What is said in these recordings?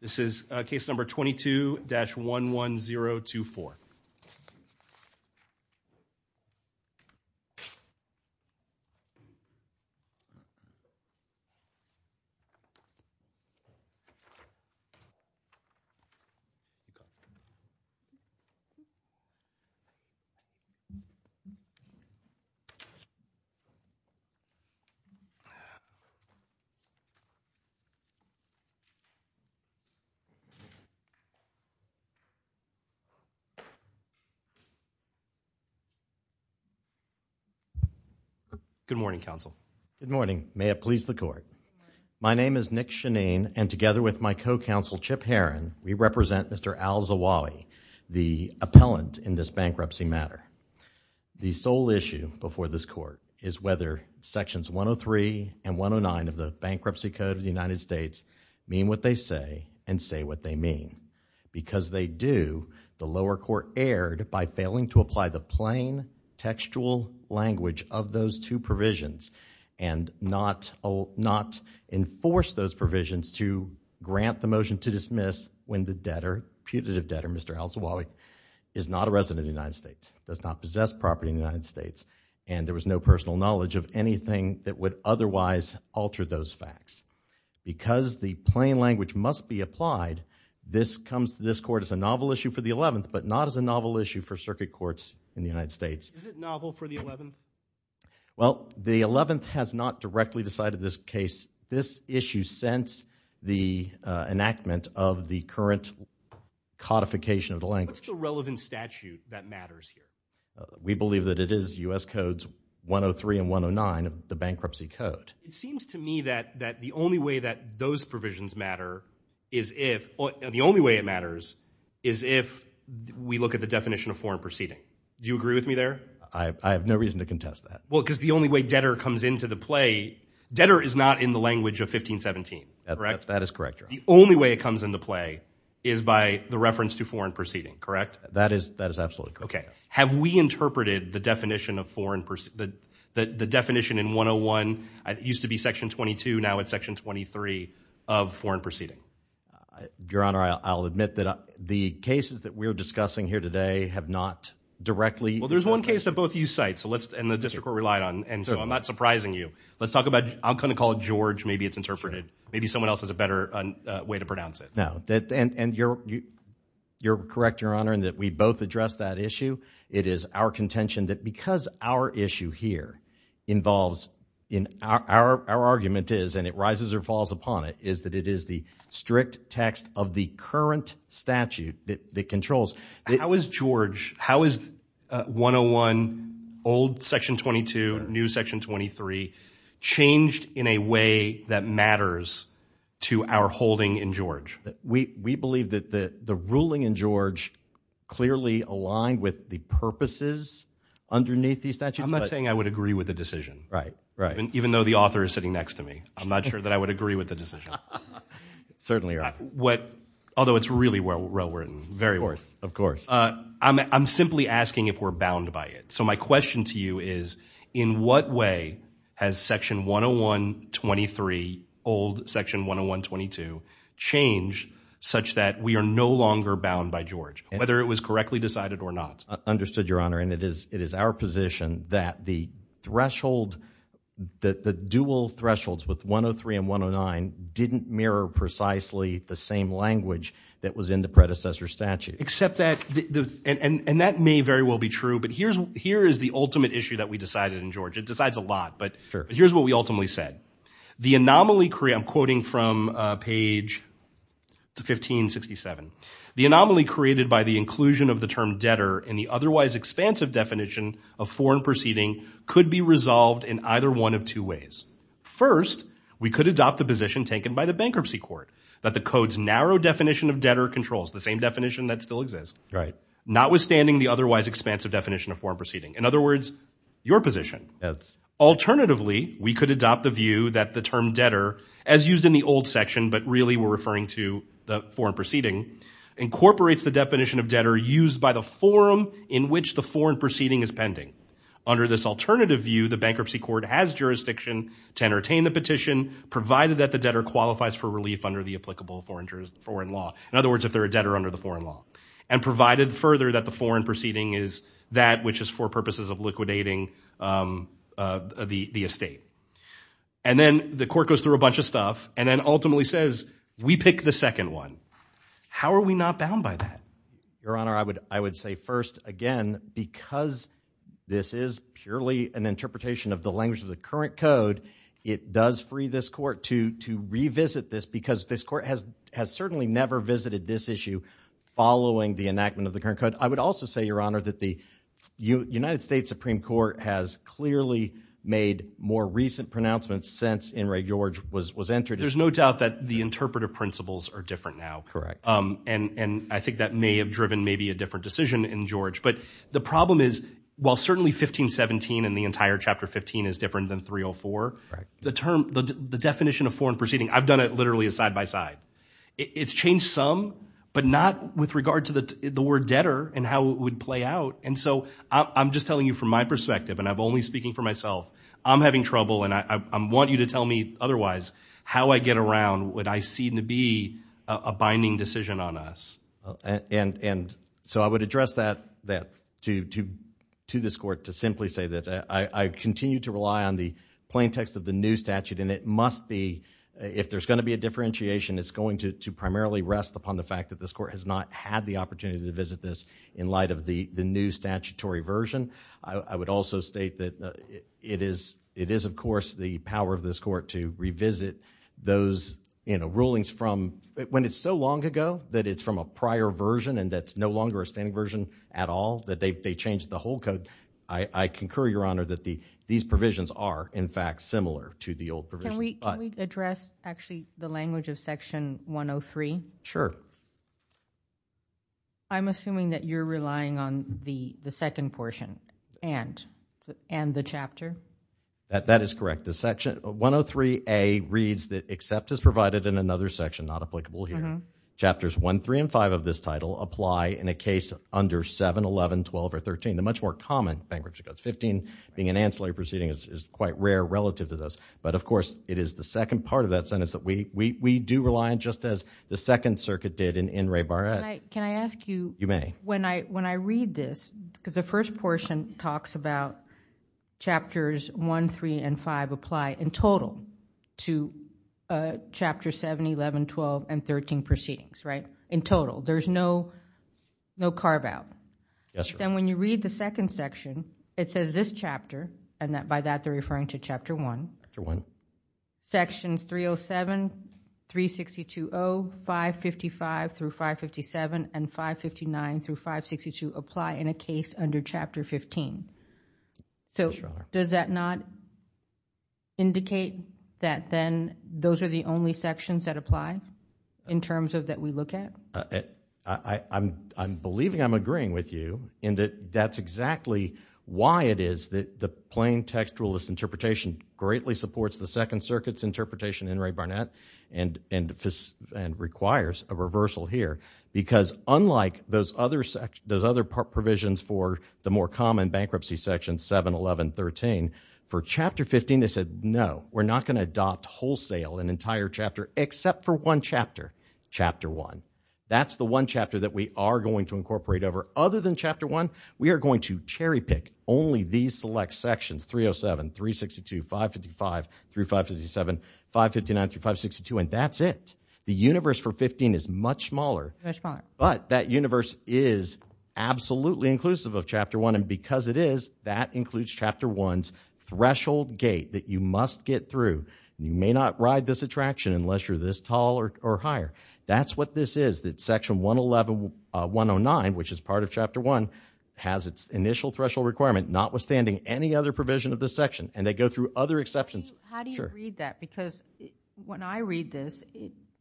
This is case number 22-11024. Good morning, counsel. Good morning. May it please the court. My name is Nick Chenine and together with my co-counsel Chip Herron, we represent Mr. Al Zawawi, the appellant in this bankruptcy matter. The sole issue before this court is whether sections 103 and 109 of the Bankruptcy Code of the United States mean what they say and say what they mean. Because they do, the lower court erred by failing to apply the plain textual language of those two provisions and not enforce those provisions to grant the motion to dismiss when the debtor, putative debtor, Mr. Al Zawawi is not a resident of the United States, does not possess property in the United States, and there was no personal knowledge of anything that would otherwise alter those facts. Because the plain language must be applied, this comes to this court as a novel issue for the 11th, but not as a novel issue for circuit courts in the United States. Is it novel for the 11th? Well, the 11th has not directly decided this case. This issue since the enactment of the current codification of the language. What's the relevant statute that matters here? We believe that it is U.S. Codes 103 and 109 of the Bankruptcy Code. It seems to me that the only way that those provisions matter is if, the only way it matters is if we look at the definition of foreign proceeding. Do you agree with me there? I have no reason to contest that. Well, because the only way debtor comes into the play, debtor is not in the language of 1517, correct? That is correct, Your Honor. The only way it comes into play is by the reference to foreign proceeding, correct? That is absolutely correct. Okay. Have we interpreted the definition of foreign, the definition in 101, it used to be Section 22, now it's Section 23 of foreign proceeding? Your Honor, I'll admit that the cases that we're discussing here today have not directly Well, there's one case that both of you cite, and the district court relied on, and so I'm not surprising you. Let's talk about, I'm going to call it George, maybe it's interpreted. Maybe someone else has a better way to pronounce it. No, and you're correct, Your Honor, in that we both address that issue. It is our contention that because our issue here involves, our argument is, and it rises or falls upon it, is that it is the strict text of the current statute that controls. How is George, how is 101, old Section 22, new Section 23, changed in a way that matters to our holding in George? We believe that the ruling in George clearly aligned with the purposes underneath these statutes. I'm not saying I would agree with the decision. Right, right. And even though the author is sitting next to me, I'm not sure that I would agree with the decision. Certainly, Your Honor. What, although it's really well-written. Very well-written. Of course, of course. I'm simply asking if we're bound by it. So my question to you is, in what way has Section 101-23, old Section 101-22, changed such that we are no longer bound by George, whether it was correctly decided or not? Understood, Your Honor, and it is our position that the threshold, that the dual thresholds with 103 and 109 didn't mirror precisely the same language that was in the predecessor statute. Except that, and that may very well be true, but here is the ultimate issue that we decided in George. It decides a lot. Sure. But here's what we ultimately said. The anomaly, I'm quoting from page 1567, the anomaly created by the inclusion of the term debtor in the otherwise expansive definition of foreign proceeding could be resolved in either one of two ways. The same definition of debtor controls, the same definition that still exists, notwithstanding the otherwise expansive definition of foreign proceeding. In other words, your position, alternatively, we could adopt the view that the term debtor, as used in the old section, but really we're referring to the foreign proceeding, incorporates the definition of debtor used by the forum in which the foreign proceeding is pending. Under this alternative view, the bankruptcy court has jurisdiction to entertain the petition provided that the debtor qualifies for relief under the applicable foreign law. In other words, if they're a debtor under the foreign law. And provided further that the foreign proceeding is that which is for purposes of liquidating the estate. And then the court goes through a bunch of stuff and then ultimately says, we pick the second one. How are we not bound by that? Your Honor, I would say first, again, because this is purely an interpretation of the language of the current code, it does free this court to revisit this because this court has certainly never visited this issue following the enactment of the current code. I would also say, Your Honor, that the United States Supreme Court has clearly made more recent pronouncements since Inouye George was entered. There's no doubt that the interpretive principles are different now. Correct. And I think that may have driven maybe a different decision in George. But the problem is, while certainly 1517 and the entire chapter 15 is different than 304, the term, the definition of foreign proceeding, I've done it literally side by side. It's changed some, but not with regard to the word debtor and how it would play out. And so I'm just telling you from my perspective, and I'm only speaking for myself, I'm having trouble and I want you to tell me otherwise. How I get around what I seem to be a binding decision on us. And so I would address that to this court to simply say that I continue to rely on the plain text of the new statute and it must be, if there's going to be a differentiation, it's going to primarily rest upon the fact that this court has not had the opportunity to visit this in light of the new statutory version. I would also state that it is, of course, the power of this court to revisit those rulings from when it's so long ago that it's from a prior version and that's no longer a standing version at all, that they changed the whole code. I concur, Your Honor, that these provisions are, in fact, similar to the old provision. Can we address, actually, the language of section 103? Sure. I'm assuming that you're relying on the second portion and the chapter? That is correct. The section 103A reads that except as provided in another section, not applicable here, chapters 1, 3, and 5 of this title apply in a case under 7, 11, 12, or 13, the much more common bankruptcy codes. 15 being an ancillary proceeding is quite rare relative to those. But of course, it is the second part of that sentence that we do rely on, just as the Second Circuit did in Ray Barrett. Can I ask you, when I read this, because the first portion talks about chapters 1, 3, and 5 apply in total to chapter 7, 11, 12, and 13 proceedings, right? In total. There's no carve-out. Yes, Your Honor. When you read the second section, it says this chapter, and by that they're referring to chapter 1, sections 307, 36020, 555 through 557, and 559 through 562 apply in a case under chapter 15. Yes, Your Honor. Does that not indicate that then those are the only sections that apply in terms of that we look at? I'm believing I'm agreeing with you in that that's exactly why it is that the plain textualist interpretation greatly supports the Second Circuit's interpretation in Ray Barnett, and requires a reversal here, because unlike those other provisions for the more common bankruptcy section 7, 11, 13, for chapter 15, they said, no, we're not going to adopt wholesale an entire chapter except for one chapter, chapter 1. That's the one chapter that we are going to incorporate over. Other than chapter 1, we are going to cherry-pick only these select sections, 307, 362, 555 through 557, 559 through 562, and that's it. The universe for 15 is much smaller, but that universe is absolutely inclusive of chapter 1, and because it is, that includes chapter 1's threshold gate that you must get through. You may not ride this attraction unless you're this tall or higher. That's what this is, that section 111, 109, which is part of chapter 1, has its initial threshold requirement, notwithstanding any other provision of the section, and they go through other exceptions. How do you read that? Because when I read this,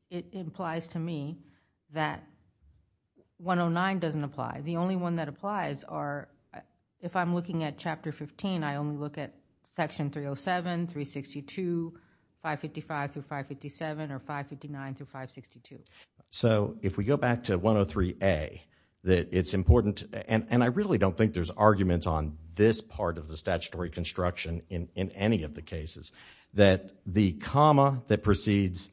it implies to me that 109 doesn't apply. The only one that applies are, if I'm looking at chapter 15, I only look at section 307, 362, 555 through 557, or 559 through 562. So if we go back to 103A, it's important, and I really don't think there's argument on this part of the statutory construction in any of the cases, that the comma that precedes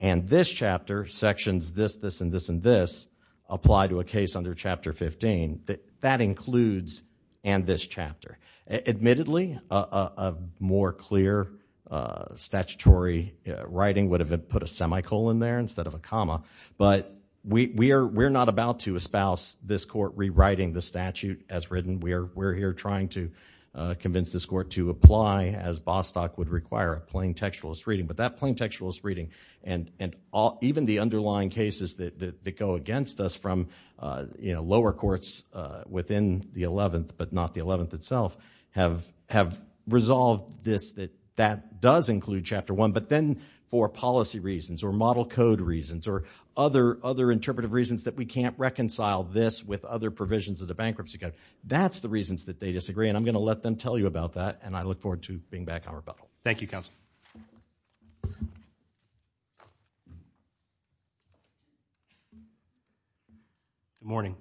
and this chapter, sections this, this, and this, and this, apply to a case under chapter 15, that includes and this chapter. Admittedly, a more clear statutory writing would have put a semicolon there instead of a comma, but we're not about to espouse this court rewriting the statute as written. We're here trying to convince this court to apply as Bostock would require, a plain textualist reading. And even the underlying cases that go against us from lower courts within the 11th, but not the 11th itself, have resolved this, that that does include chapter 1, but then for policy reasons, or model code reasons, or other interpretive reasons that we can't reconcile this with other provisions of the bankruptcy code. That's the reasons that they disagree, and I'm going to let them tell you about that, and I look forward to being back on rebuttal. Thank you, counsel. Good morning.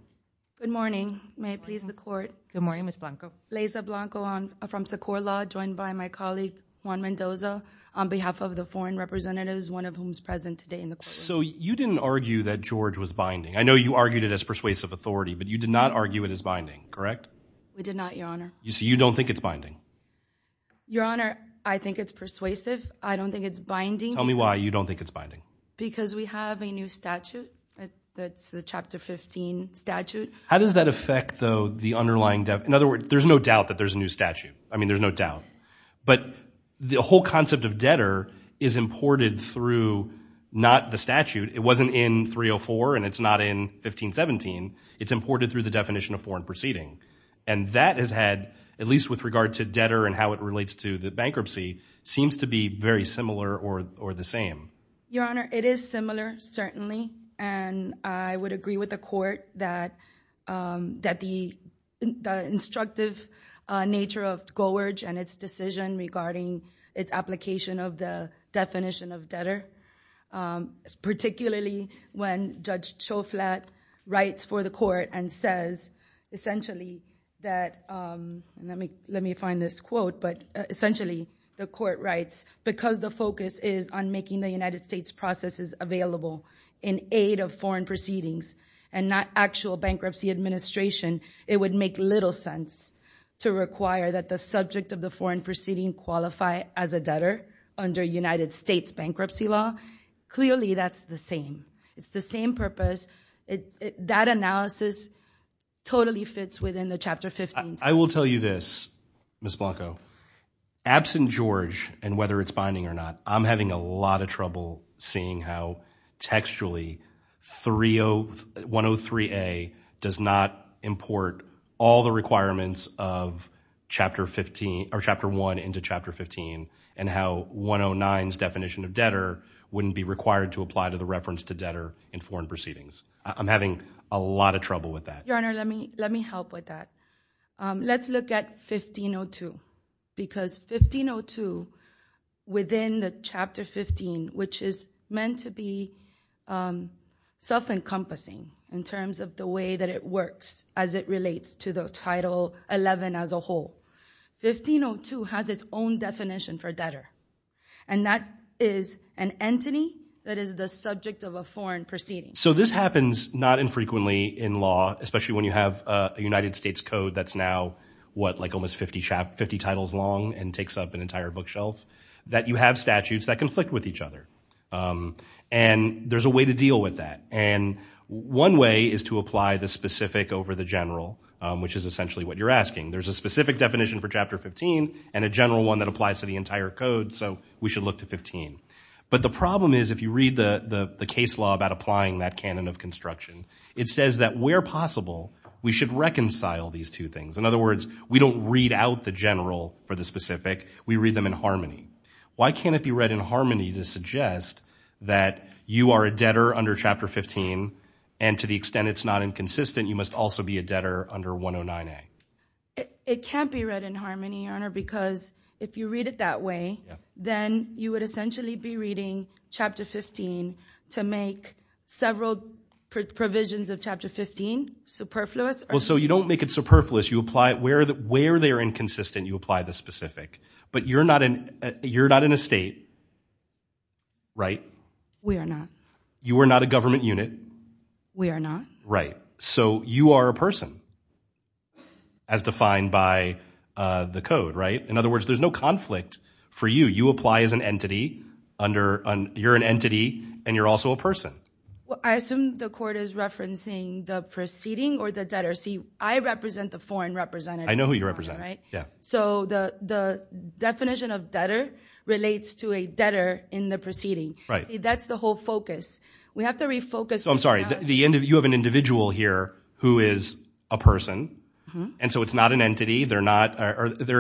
Good morning. May it please the court. Good morning, Ms. Blanco. Laysa Blanco from Secur Law, joined by my colleague, Juan Mendoza, on behalf of the foreign representatives, one of whom is present today in the courtroom. So you didn't argue that George was binding. I know you argued it as persuasive authority, but you did not argue it as binding, correct? We did not, your honor. So you don't think it's binding? Your honor, I think it's persuasive. I don't think it's binding. Tell me why you don't think it's binding. Because we have a new statute that's the chapter 15 statute. How does that affect, though, the underlying, in other words, there's no doubt that there's a new statute. I mean, there's no doubt. But the whole concept of debtor is imported through not the statute. It wasn't in 304, and it's not in 1517. It's imported through the definition of foreign proceeding, and that has had, at least with regard to debtor and how it relates to the bankruptcy, seems to be very similar or the same. Your honor, it is similar, certainly. And I would agree with the court that the instructive nature of Goward and its decision regarding its application of the definition of debtor, particularly when Judge Choflat writes for the court and says, essentially, that, and let me find this quote, but essentially, the court writes, because the focus is on making the United States processes available in aid of foreign proceedings and not actual bankruptcy administration, it would make little sense to require that the subject of the foreign proceeding qualify as a debtor under United States bankruptcy law. Clearly that's the same. It's the same purpose. That analysis totally fits within the Chapter 15. I will tell you this, Ms. Blanco, absent George and whether it's binding or not, I'm having a lot of trouble seeing how textually 103A does not import all the requirements of Chapter 15, or Chapter 1 into Chapter 15, and how 109's definition of debtor wouldn't be required to apply to the reference to debtor in foreign proceedings. I'm having a lot of trouble with that. Your Honor, let me help with that. Let's look at 1502, because 1502, within the Chapter 15, which is meant to be self-encompassing in terms of the way that it works as it relates to the Title 11 as a whole, 1502 has its own is the subject of a foreign proceeding. This happens not infrequently in law, especially when you have a United States code that's now almost 50 titles long and takes up an entire bookshelf, that you have statutes that conflict with each other. There's a way to deal with that. One way is to apply the specific over the general, which is essentially what you're asking. There's a specific definition for Chapter 15 and a general one that applies to the entire code, so we should look to 15. But the problem is, if you read the case law about applying that canon of construction, it says that where possible, we should reconcile these two things. In other words, we don't read out the general for the specific, we read them in harmony. Why can't it be read in harmony to suggest that you are a debtor under Chapter 15, and to the extent it's not inconsistent, you must also be a debtor under 109A? It can't be read in harmony, Your Honor, because if you read it that way, then you would essentially be reading Chapter 15 to make several provisions of Chapter 15 superfluous. So you don't make it superfluous, you apply it where they are inconsistent, you apply the specific. But you're not in a state, right? We are not. You are not a government unit. We are not. Right. So you are a person, as defined by the code, right? In other words, there's no conflict for you. You apply as an entity, you're an entity, and you're also a person. I assume the court is referencing the proceeding or the debtor. See, I represent the foreign representative. I know who you represent. Right? Yeah. So the definition of debtor relates to a debtor in the proceeding. Right. That's the whole focus. We have to refocus. They're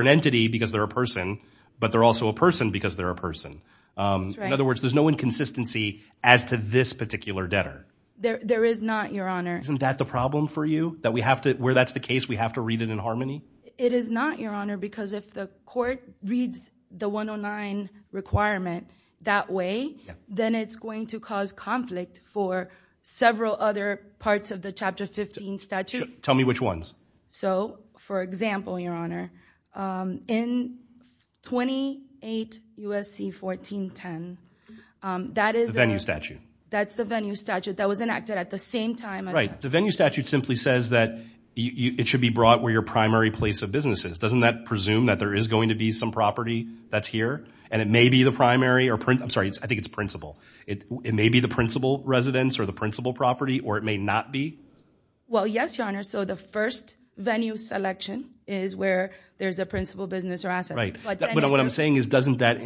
an entity because they're a person, but they're also a person because they're a person. That's right. In other words, there's no inconsistency as to this particular debtor. There is not, Your Honor. Isn't that the problem for you? Where that's the case, we have to read it in harmony? It is not, Your Honor, because if the court reads the 109 requirement that way, then it's going to cause conflict for several other parts of the Chapter 15 statute. Tell me which ones. So, for example, Your Honor, in 28 U.S.C. 1410, that is the venue statute that was enacted at the same time. Right. The venue statute simply says that it should be brought where your primary place of business is. Doesn't that presume that there is going to be some property that's here, and it may be the primary? I'm sorry. I think it's principal. It may be the principal residence or the principal property, or it may not be? Well, yes, Your Honor. So the first venue selection is where there's a principal business or asset. Right. But what I'm saying is, doesn't that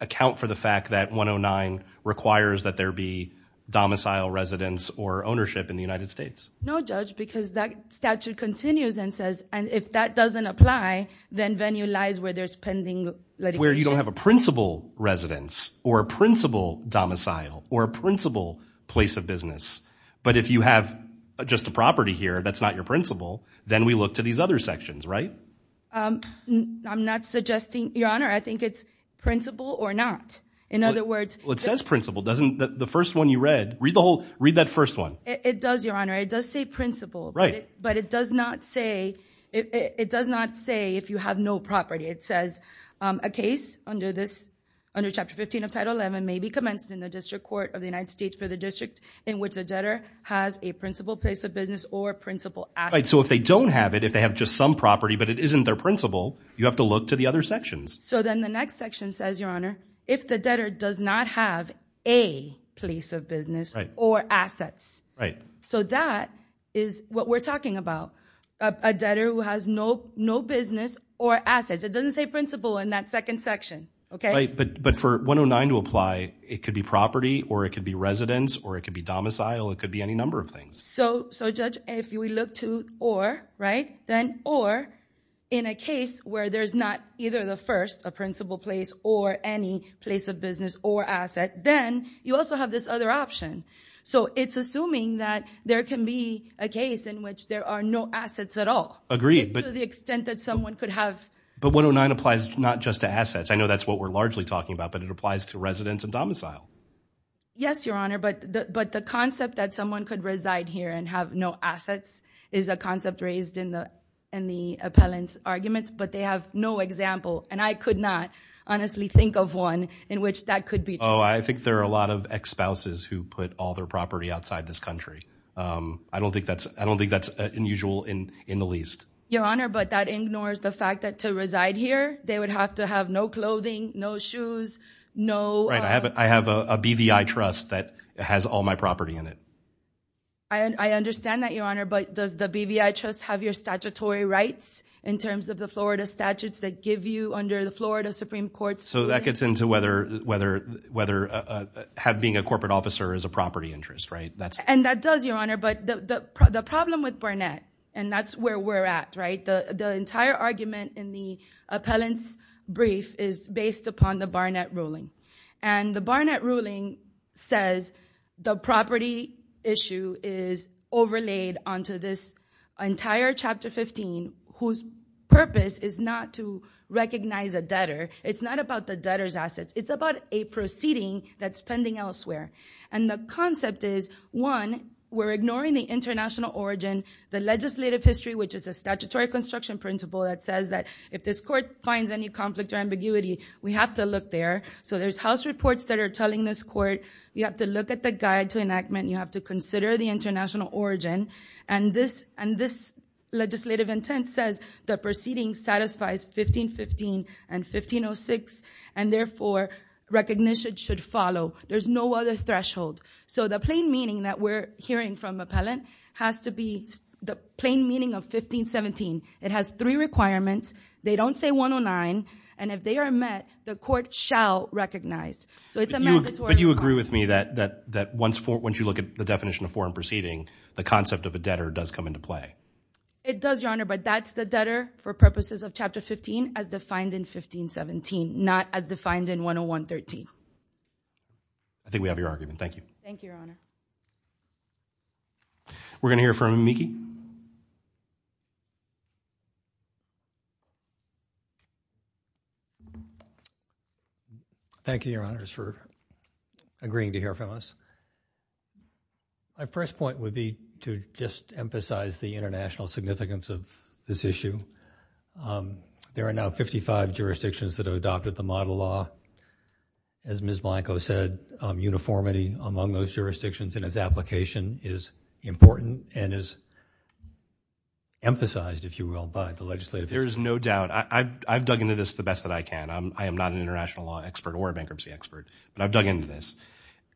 account for the fact that 109 requires that there be domicile residence or ownership in the United States? No, Judge, because that statute continues and says, and if that doesn't apply, then venue lies where there's pending litigation. Where you don't have a principal residence, or a principal domicile, or a principal place of business. But if you have just the property here that's not your principal, then we look to these other sections, right? I'm not suggesting, Your Honor. I think it's principal or not. In other words- Well, it says principal. Doesn't the first one you read, read that first one. It does, Your Honor. It does say principal. Right. But it does not say if you have no property. It says, a case under Chapter 15 of Title XI may be commenced in the District Court of the United States for the District in which a debtor has a principal place of business or principal asset. Right. So if they don't have it, if they have just some property, but it isn't their principal, you have to look to the other sections. So then the next section says, Your Honor, if the debtor does not have a place of business or assets. Right. So that is what we're talking about, a debtor who has no business or assets. It doesn't say principal in that second section, okay? Right. But for 109 to apply, it could be property, or it could be residence, or it could be domicile, it could be any number of things. So Judge, if we look to or, right, then or in a case where there's not either the first, a principal place, or any place of business or asset, then you also have this other option. So it's assuming that there can be a case in which there are no assets at all. Agreed. To the extent that someone could have- But 109 applies not just to assets. I know that's what we're largely talking about, but it applies to residence and domicile. Yes, Your Honor, but the concept that someone could reside here and have no assets is a concept raised in the appellant's arguments, but they have no example. And I could not honestly think of one in which that could be true. Oh, I think there are a lot of ex-spouses who put all their property outside this country. I don't think that's unusual in the least. Your Honor, but that ignores the fact that to reside here, they would have to have no clothing, no shoes, no- Right, I have a BVI trust that has all my property in it. I understand that, Your Honor, but does the BVI trust have your statutory rights in terms of the Florida statutes that give you under the Florida Supreme Court's- So that gets into whether being a corporate officer is a property interest, right? And that does, Your Honor, but the problem with Barnett, and that's where we're at, right? The entire argument in the appellant's brief is based upon the Barnett ruling. And the Barnett ruling says the property issue is overlaid onto this entire Chapter 15 whose purpose is not to recognize a debtor. It's not about the debtor's assets. It's about a proceeding that's pending elsewhere. And the concept is, one, we're ignoring the international origin, the legislative history, which is a statutory construction principle that says that if this court finds any conflict or ambiguity, we have to look there. So there's house reports that are telling this court, you have to look at the guide to enactment, you have to consider the international origin. And this legislative intent says the proceeding satisfies 1515 and 1506, and therefore, recognition should follow. There's no other threshold. So the plain meaning that we're hearing from appellant has to be the plain meaning of 1517. It has three requirements. They don't say 109. And if they are met, the court shall recognize. So it's a mandatory requirement. But you agree with me that once you look at the definition of foreign proceeding, the concept of a debtor does come into play? It does, Your Honor, but that's the debtor for purposes of Chapter 15 as defined in 1517, not as defined in 10113. I think we have your argument. Thank you. Thank you, Your Honor. We're going to hear from Miki. Thank you, Your Honors, for agreeing to hear from us. My first point would be to just emphasize the international significance of this issue. There are now 55 jurisdictions that have adopted the model law. As Ms. Blanco said, uniformity among those jurisdictions in its application is important and is emphasized, if you will, by the legislative. There is no doubt. I've dug into this the best that I can. I am not an international law expert or a bankruptcy expert, but I've dug into this.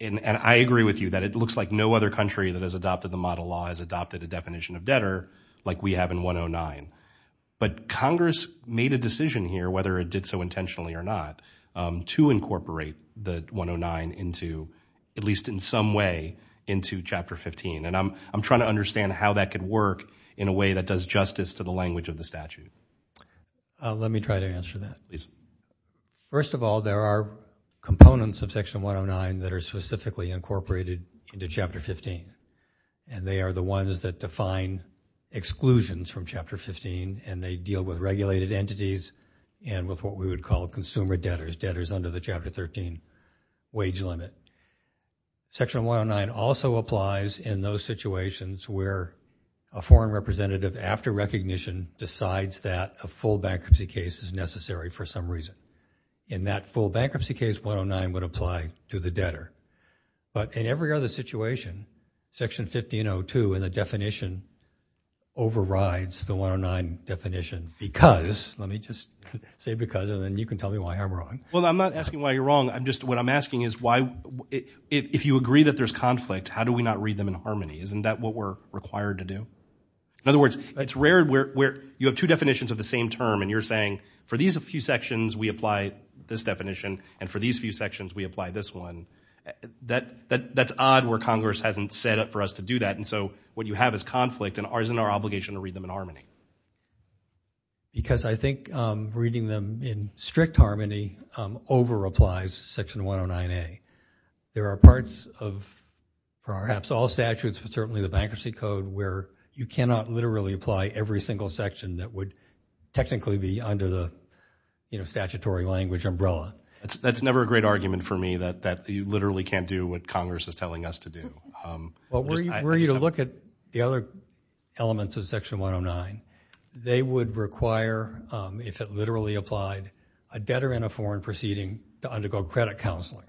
And I agree with you that it looks like no other country that has adopted the model law has adopted a definition of debtor like we have in 109. But Congress made a decision here, whether it did so intentionally or not, to incorporate the 109 into, at least in some way, into Chapter 15. And I'm trying to understand how that could work in a way that does justice to the language of the statute. Let me try to answer that. First of all, there are components of Section 109 that are specifically incorporated into Chapter 15. And they are the ones that define exclusions from Chapter 15. And they deal with regulated entities and with what we would call consumer debtors, debtors under the Chapter 13 wage limit. Section 109 also applies in those situations where a foreign representative, after recognition, decides that a full bankruptcy case is necessary for some reason. In that full bankruptcy case, 109 would apply to the debtor. But in every other situation, Section 1502 in the definition overrides the 109 definition because, let me just say because, and then you can tell me why I'm wrong. Well, I'm not asking why you're wrong. I'm just, what I'm asking is why, if you agree that there's conflict, how do we not read them in harmony? Isn't that what we're required to do? In other words, it's rare where you have two definitions of the same term and you're saying, for these a few sections, we apply this definition. And for these few sections, we apply this one. That's odd where Congress hasn't set up for us to do that. And so what you have is conflict and isn't our obligation to read them in harmony. Because I think reading them in strict harmony over applies Section 109A. There are parts of perhaps all statutes, but certainly the Bankruptcy Code, where you cannot literally apply every single section that would technically be under the statutory language umbrella. That's never a great argument for me that you literally can't do what Congress is telling us to do. Well, were you to look at the other elements of Section 109, they would require, if it literally applied, a debtor in a foreign proceeding to undergo credit counseling.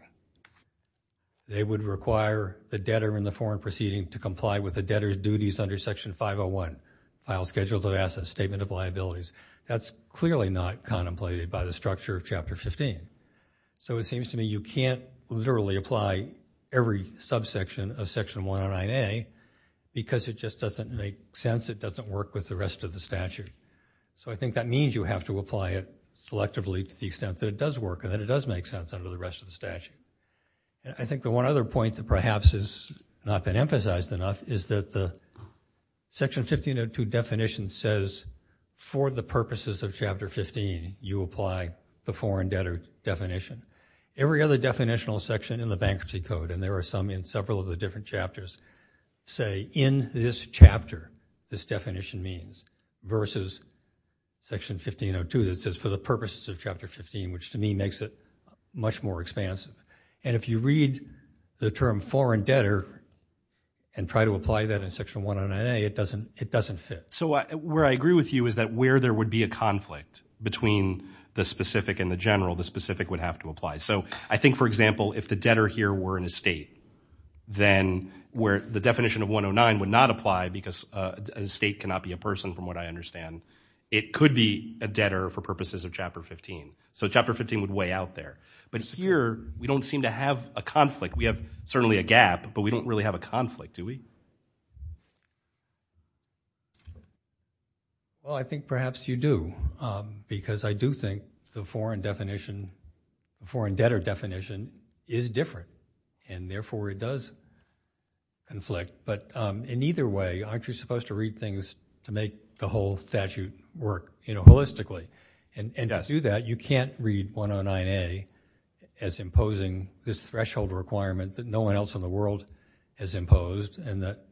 They would require the debtor in the foreign proceeding to comply with the debtor's duties under Section 501, Files, Schedules of Assets, Statement of Liabilities. That's clearly not contemplated by the structure of Chapter 15. So it seems to me you can't literally apply every subsection of Section 109A because it just doesn't make sense. It doesn't work with the rest of the statute. So I think that means you have to apply it selectively to the extent that it does work and that it does make sense under the rest of the statute. I think the one other point that perhaps has not been emphasized enough is that the Section 1502 definition says, for the purposes of Chapter 15, you apply the foreign debtor definition. Every other definitional section in the Bankruptcy Code, and there are some in several of the different chapters, say, in this chapter, this definition means, versus Section 1502 that says, for the purposes of Chapter 15, which to me makes it much more expansive. And if you read the term foreign debtor and try to apply that in Section 109A, it doesn't fit. So where I agree with you is that where there would be a conflict between the specific and the general, the specific would have to apply. So I think, for example, if the debtor here were an estate, then where the definition of 109 would not apply because an estate cannot be a person, from what I understand, it could be a debtor for purposes of Chapter 15. So Chapter 15 would weigh out there. But here, we don't seem to have a conflict. We have certainly a gap, but we don't really have a conflict, do we? Well, I think perhaps you do, because I do think the foreign definition, the foreign debtor definition is different, and therefore it does conflict. But in either way, aren't you supposed to read things to make the whole statute work, you know, holistically? And to do that, you can't read 109A as imposing this threshold requirement that no one else in the world has imposed, and that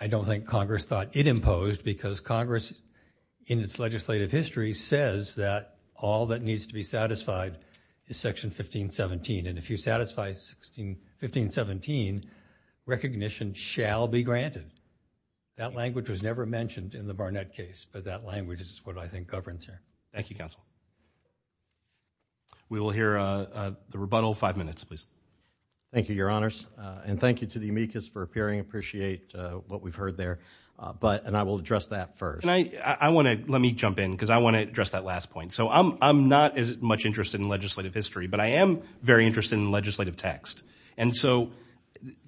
I don't think Congress thought it imposed, because Congress in its legislative history says that all that needs to be satisfied is Section 1517. And if you satisfy 1517, recognition shall be granted. That language was never mentioned in the Barnett case, but that language is what I think governs it. Thank you, Counsel. We will hear the rebuttal in five minutes, please. Thank you, Your Honors. And thank you to the amicus for appearing, appreciate what we've heard there. And I will address that first. I want to, let me jump in, because I want to address that last point. So I'm not as much interested in legislative history, but I am very interested in legislative text. And so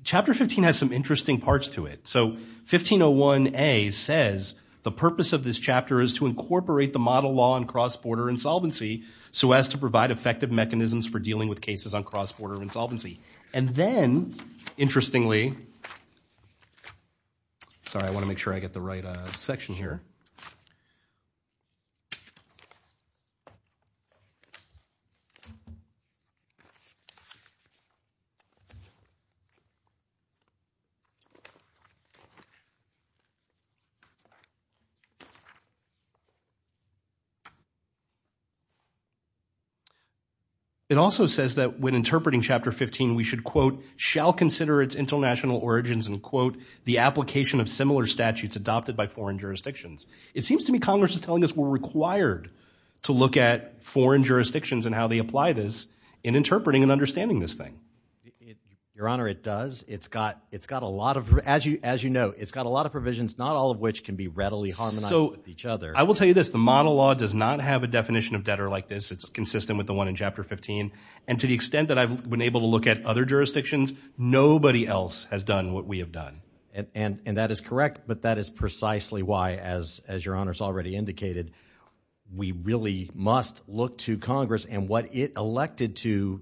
Chapter 15 has some interesting parts to it. So 1501A says, the purpose of this chapter is to incorporate the model law on cross-border insolvency so as to provide effective mechanisms for dealing with cases on cross-border insolvency. And then, interestingly, sorry, I want to make sure I get the right section here. It also says that when interpreting Chapter 15, we should, quote, shall consider its international origins and, quote, the application of similar statutes adopted by foreign jurisdictions. It seems to me Congress is telling us we're required to look at foreign jurisdictions and how they apply this in interpreting and understanding this thing. Your Honor, it does. It's got a lot of, as you know, it's got a lot of provisions, not all of which can be readily harmonized with each other. I will tell you this. The model law does not have a definition of debtor like this. It's consistent with the one in Chapter 15. And to the extent that I've been able to look at other jurisdictions, nobody else has done what we have done. And that is correct, but that is precisely why, as Your Honor has already indicated, we really must look to Congress and what it elected to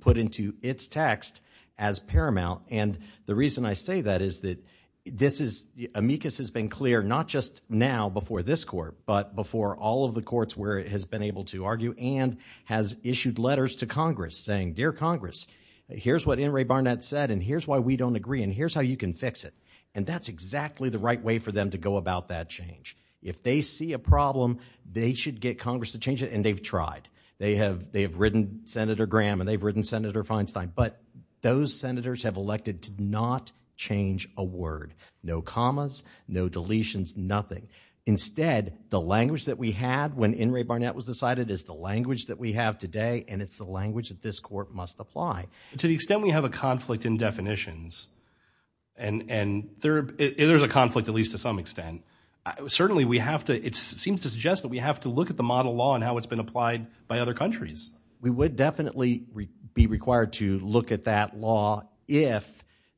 put into its text as paramount. And the reason I say that is that this is, amicus has been clear, not just now before this court, but before all of the courts where it has been able to argue and has issued letters to Congress saying, dear Congress, here's what In re Barnett said and here's why we don't agree and here's how you can fix it. And that's exactly the right way for them to go about that change. If they see a problem, they should get Congress to change it. And they've tried. They have, they have written Senator Graham and they've written Senator Feinstein. But those senators have elected to not change a word. No commas, no deletions, nothing. Instead, the language that we had when In re Barnett was decided is the language that we have today. And it's the language that this court must apply. To the extent we have a conflict in definitions and, and there, there's a conflict, at least to some extent, certainly we have to, it seems to suggest that we have to look at the model law and how it's been applied by other countries. We would definitely be required to look at that law if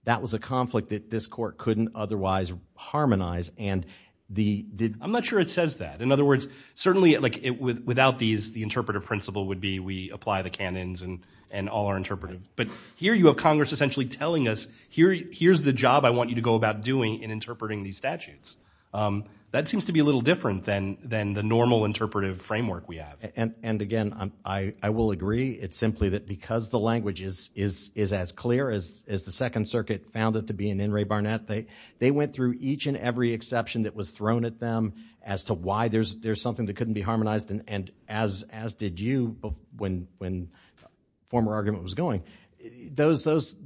that was a conflict that this court couldn't otherwise harmonize. And the, I'm not sure it says that. In other words, certainly like without these, the interpretive principle would be we apply the canons and, and all are interpretive. But here you have Congress essentially telling us here, here's the job I want you to go about doing in interpreting these statutes. That seems to be a little different than, than the normal interpretive framework we have. And, and again, I, I will agree. It's simply that because the language is, is, is as clear as, as the second circuit found it to be in In re Barnett, they, they went through each and every exception that was thrown at them as to why there's, there's something that couldn't be harmonized. And, and as, as did you when, when former argument was going, those, those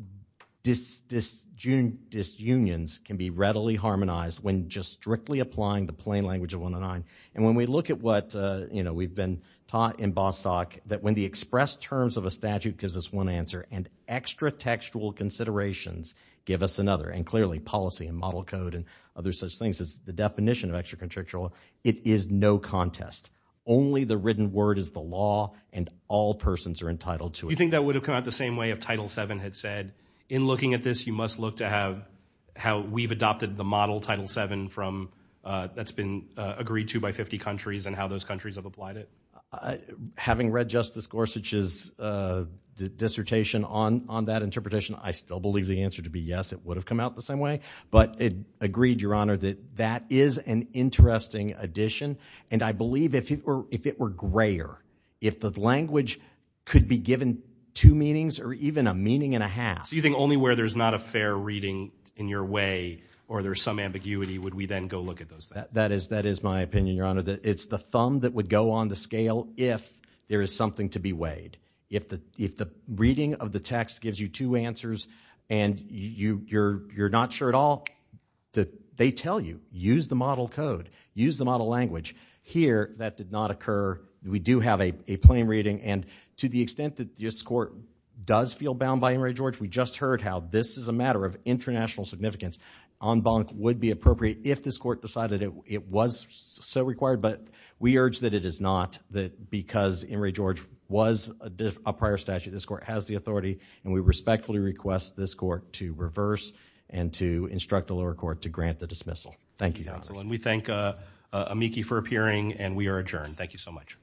dis, disjun, disunions can be readily harmonized when just strictly applying the plain language of 109. And when we look at what, uh, you know, we've been taught in Bostock that when the expressed terms of a statute gives us one answer and extra textual considerations give us another and clearly policy and model code and other such things as the definition of extra contractual, it is no contest. Only the written word is the law and all persons are entitled to it. You think that would have come out the same way if Title VII had said, in looking at this, you must look to have how we've adopted the model Title VII from, uh, that's been, uh, agreed to by 50 countries and how those countries have applied it. Having read Justice Gorsuch's, uh, dissertation on, on that interpretation, I still believe the answer to be yes, it would have come out the same way. But it agreed, Your Honor, that that is an interesting addition. And I believe if it were, if it were grayer, if the language could be given two meanings or even a meaning and a half. So you think only where there's not a fair reading in your way or there's some ambiguity would we then go look at those things? That is, that is my opinion, Your Honor, that it's the thumb that would go on the scale if there is something to be weighed. If the, if the reading of the text gives you two answers and you, you're, you're not sure at all that they tell you, use the model code, use the model language. Here that did not occur. We do have a, a plain reading and to the extent that this court does feel bound by Emory George, we just heard how this is a matter of international significance. En banc would be appropriate if this court decided it, it was so required, but we urge that it is not that because Emory George was a prior statute, this court has the authority and we respectfully request this court to reverse and to instruct the lower court to grant the dismissal. Thank you, counsel. And we thank Amiki for appearing and we are adjourned. Thank you so much.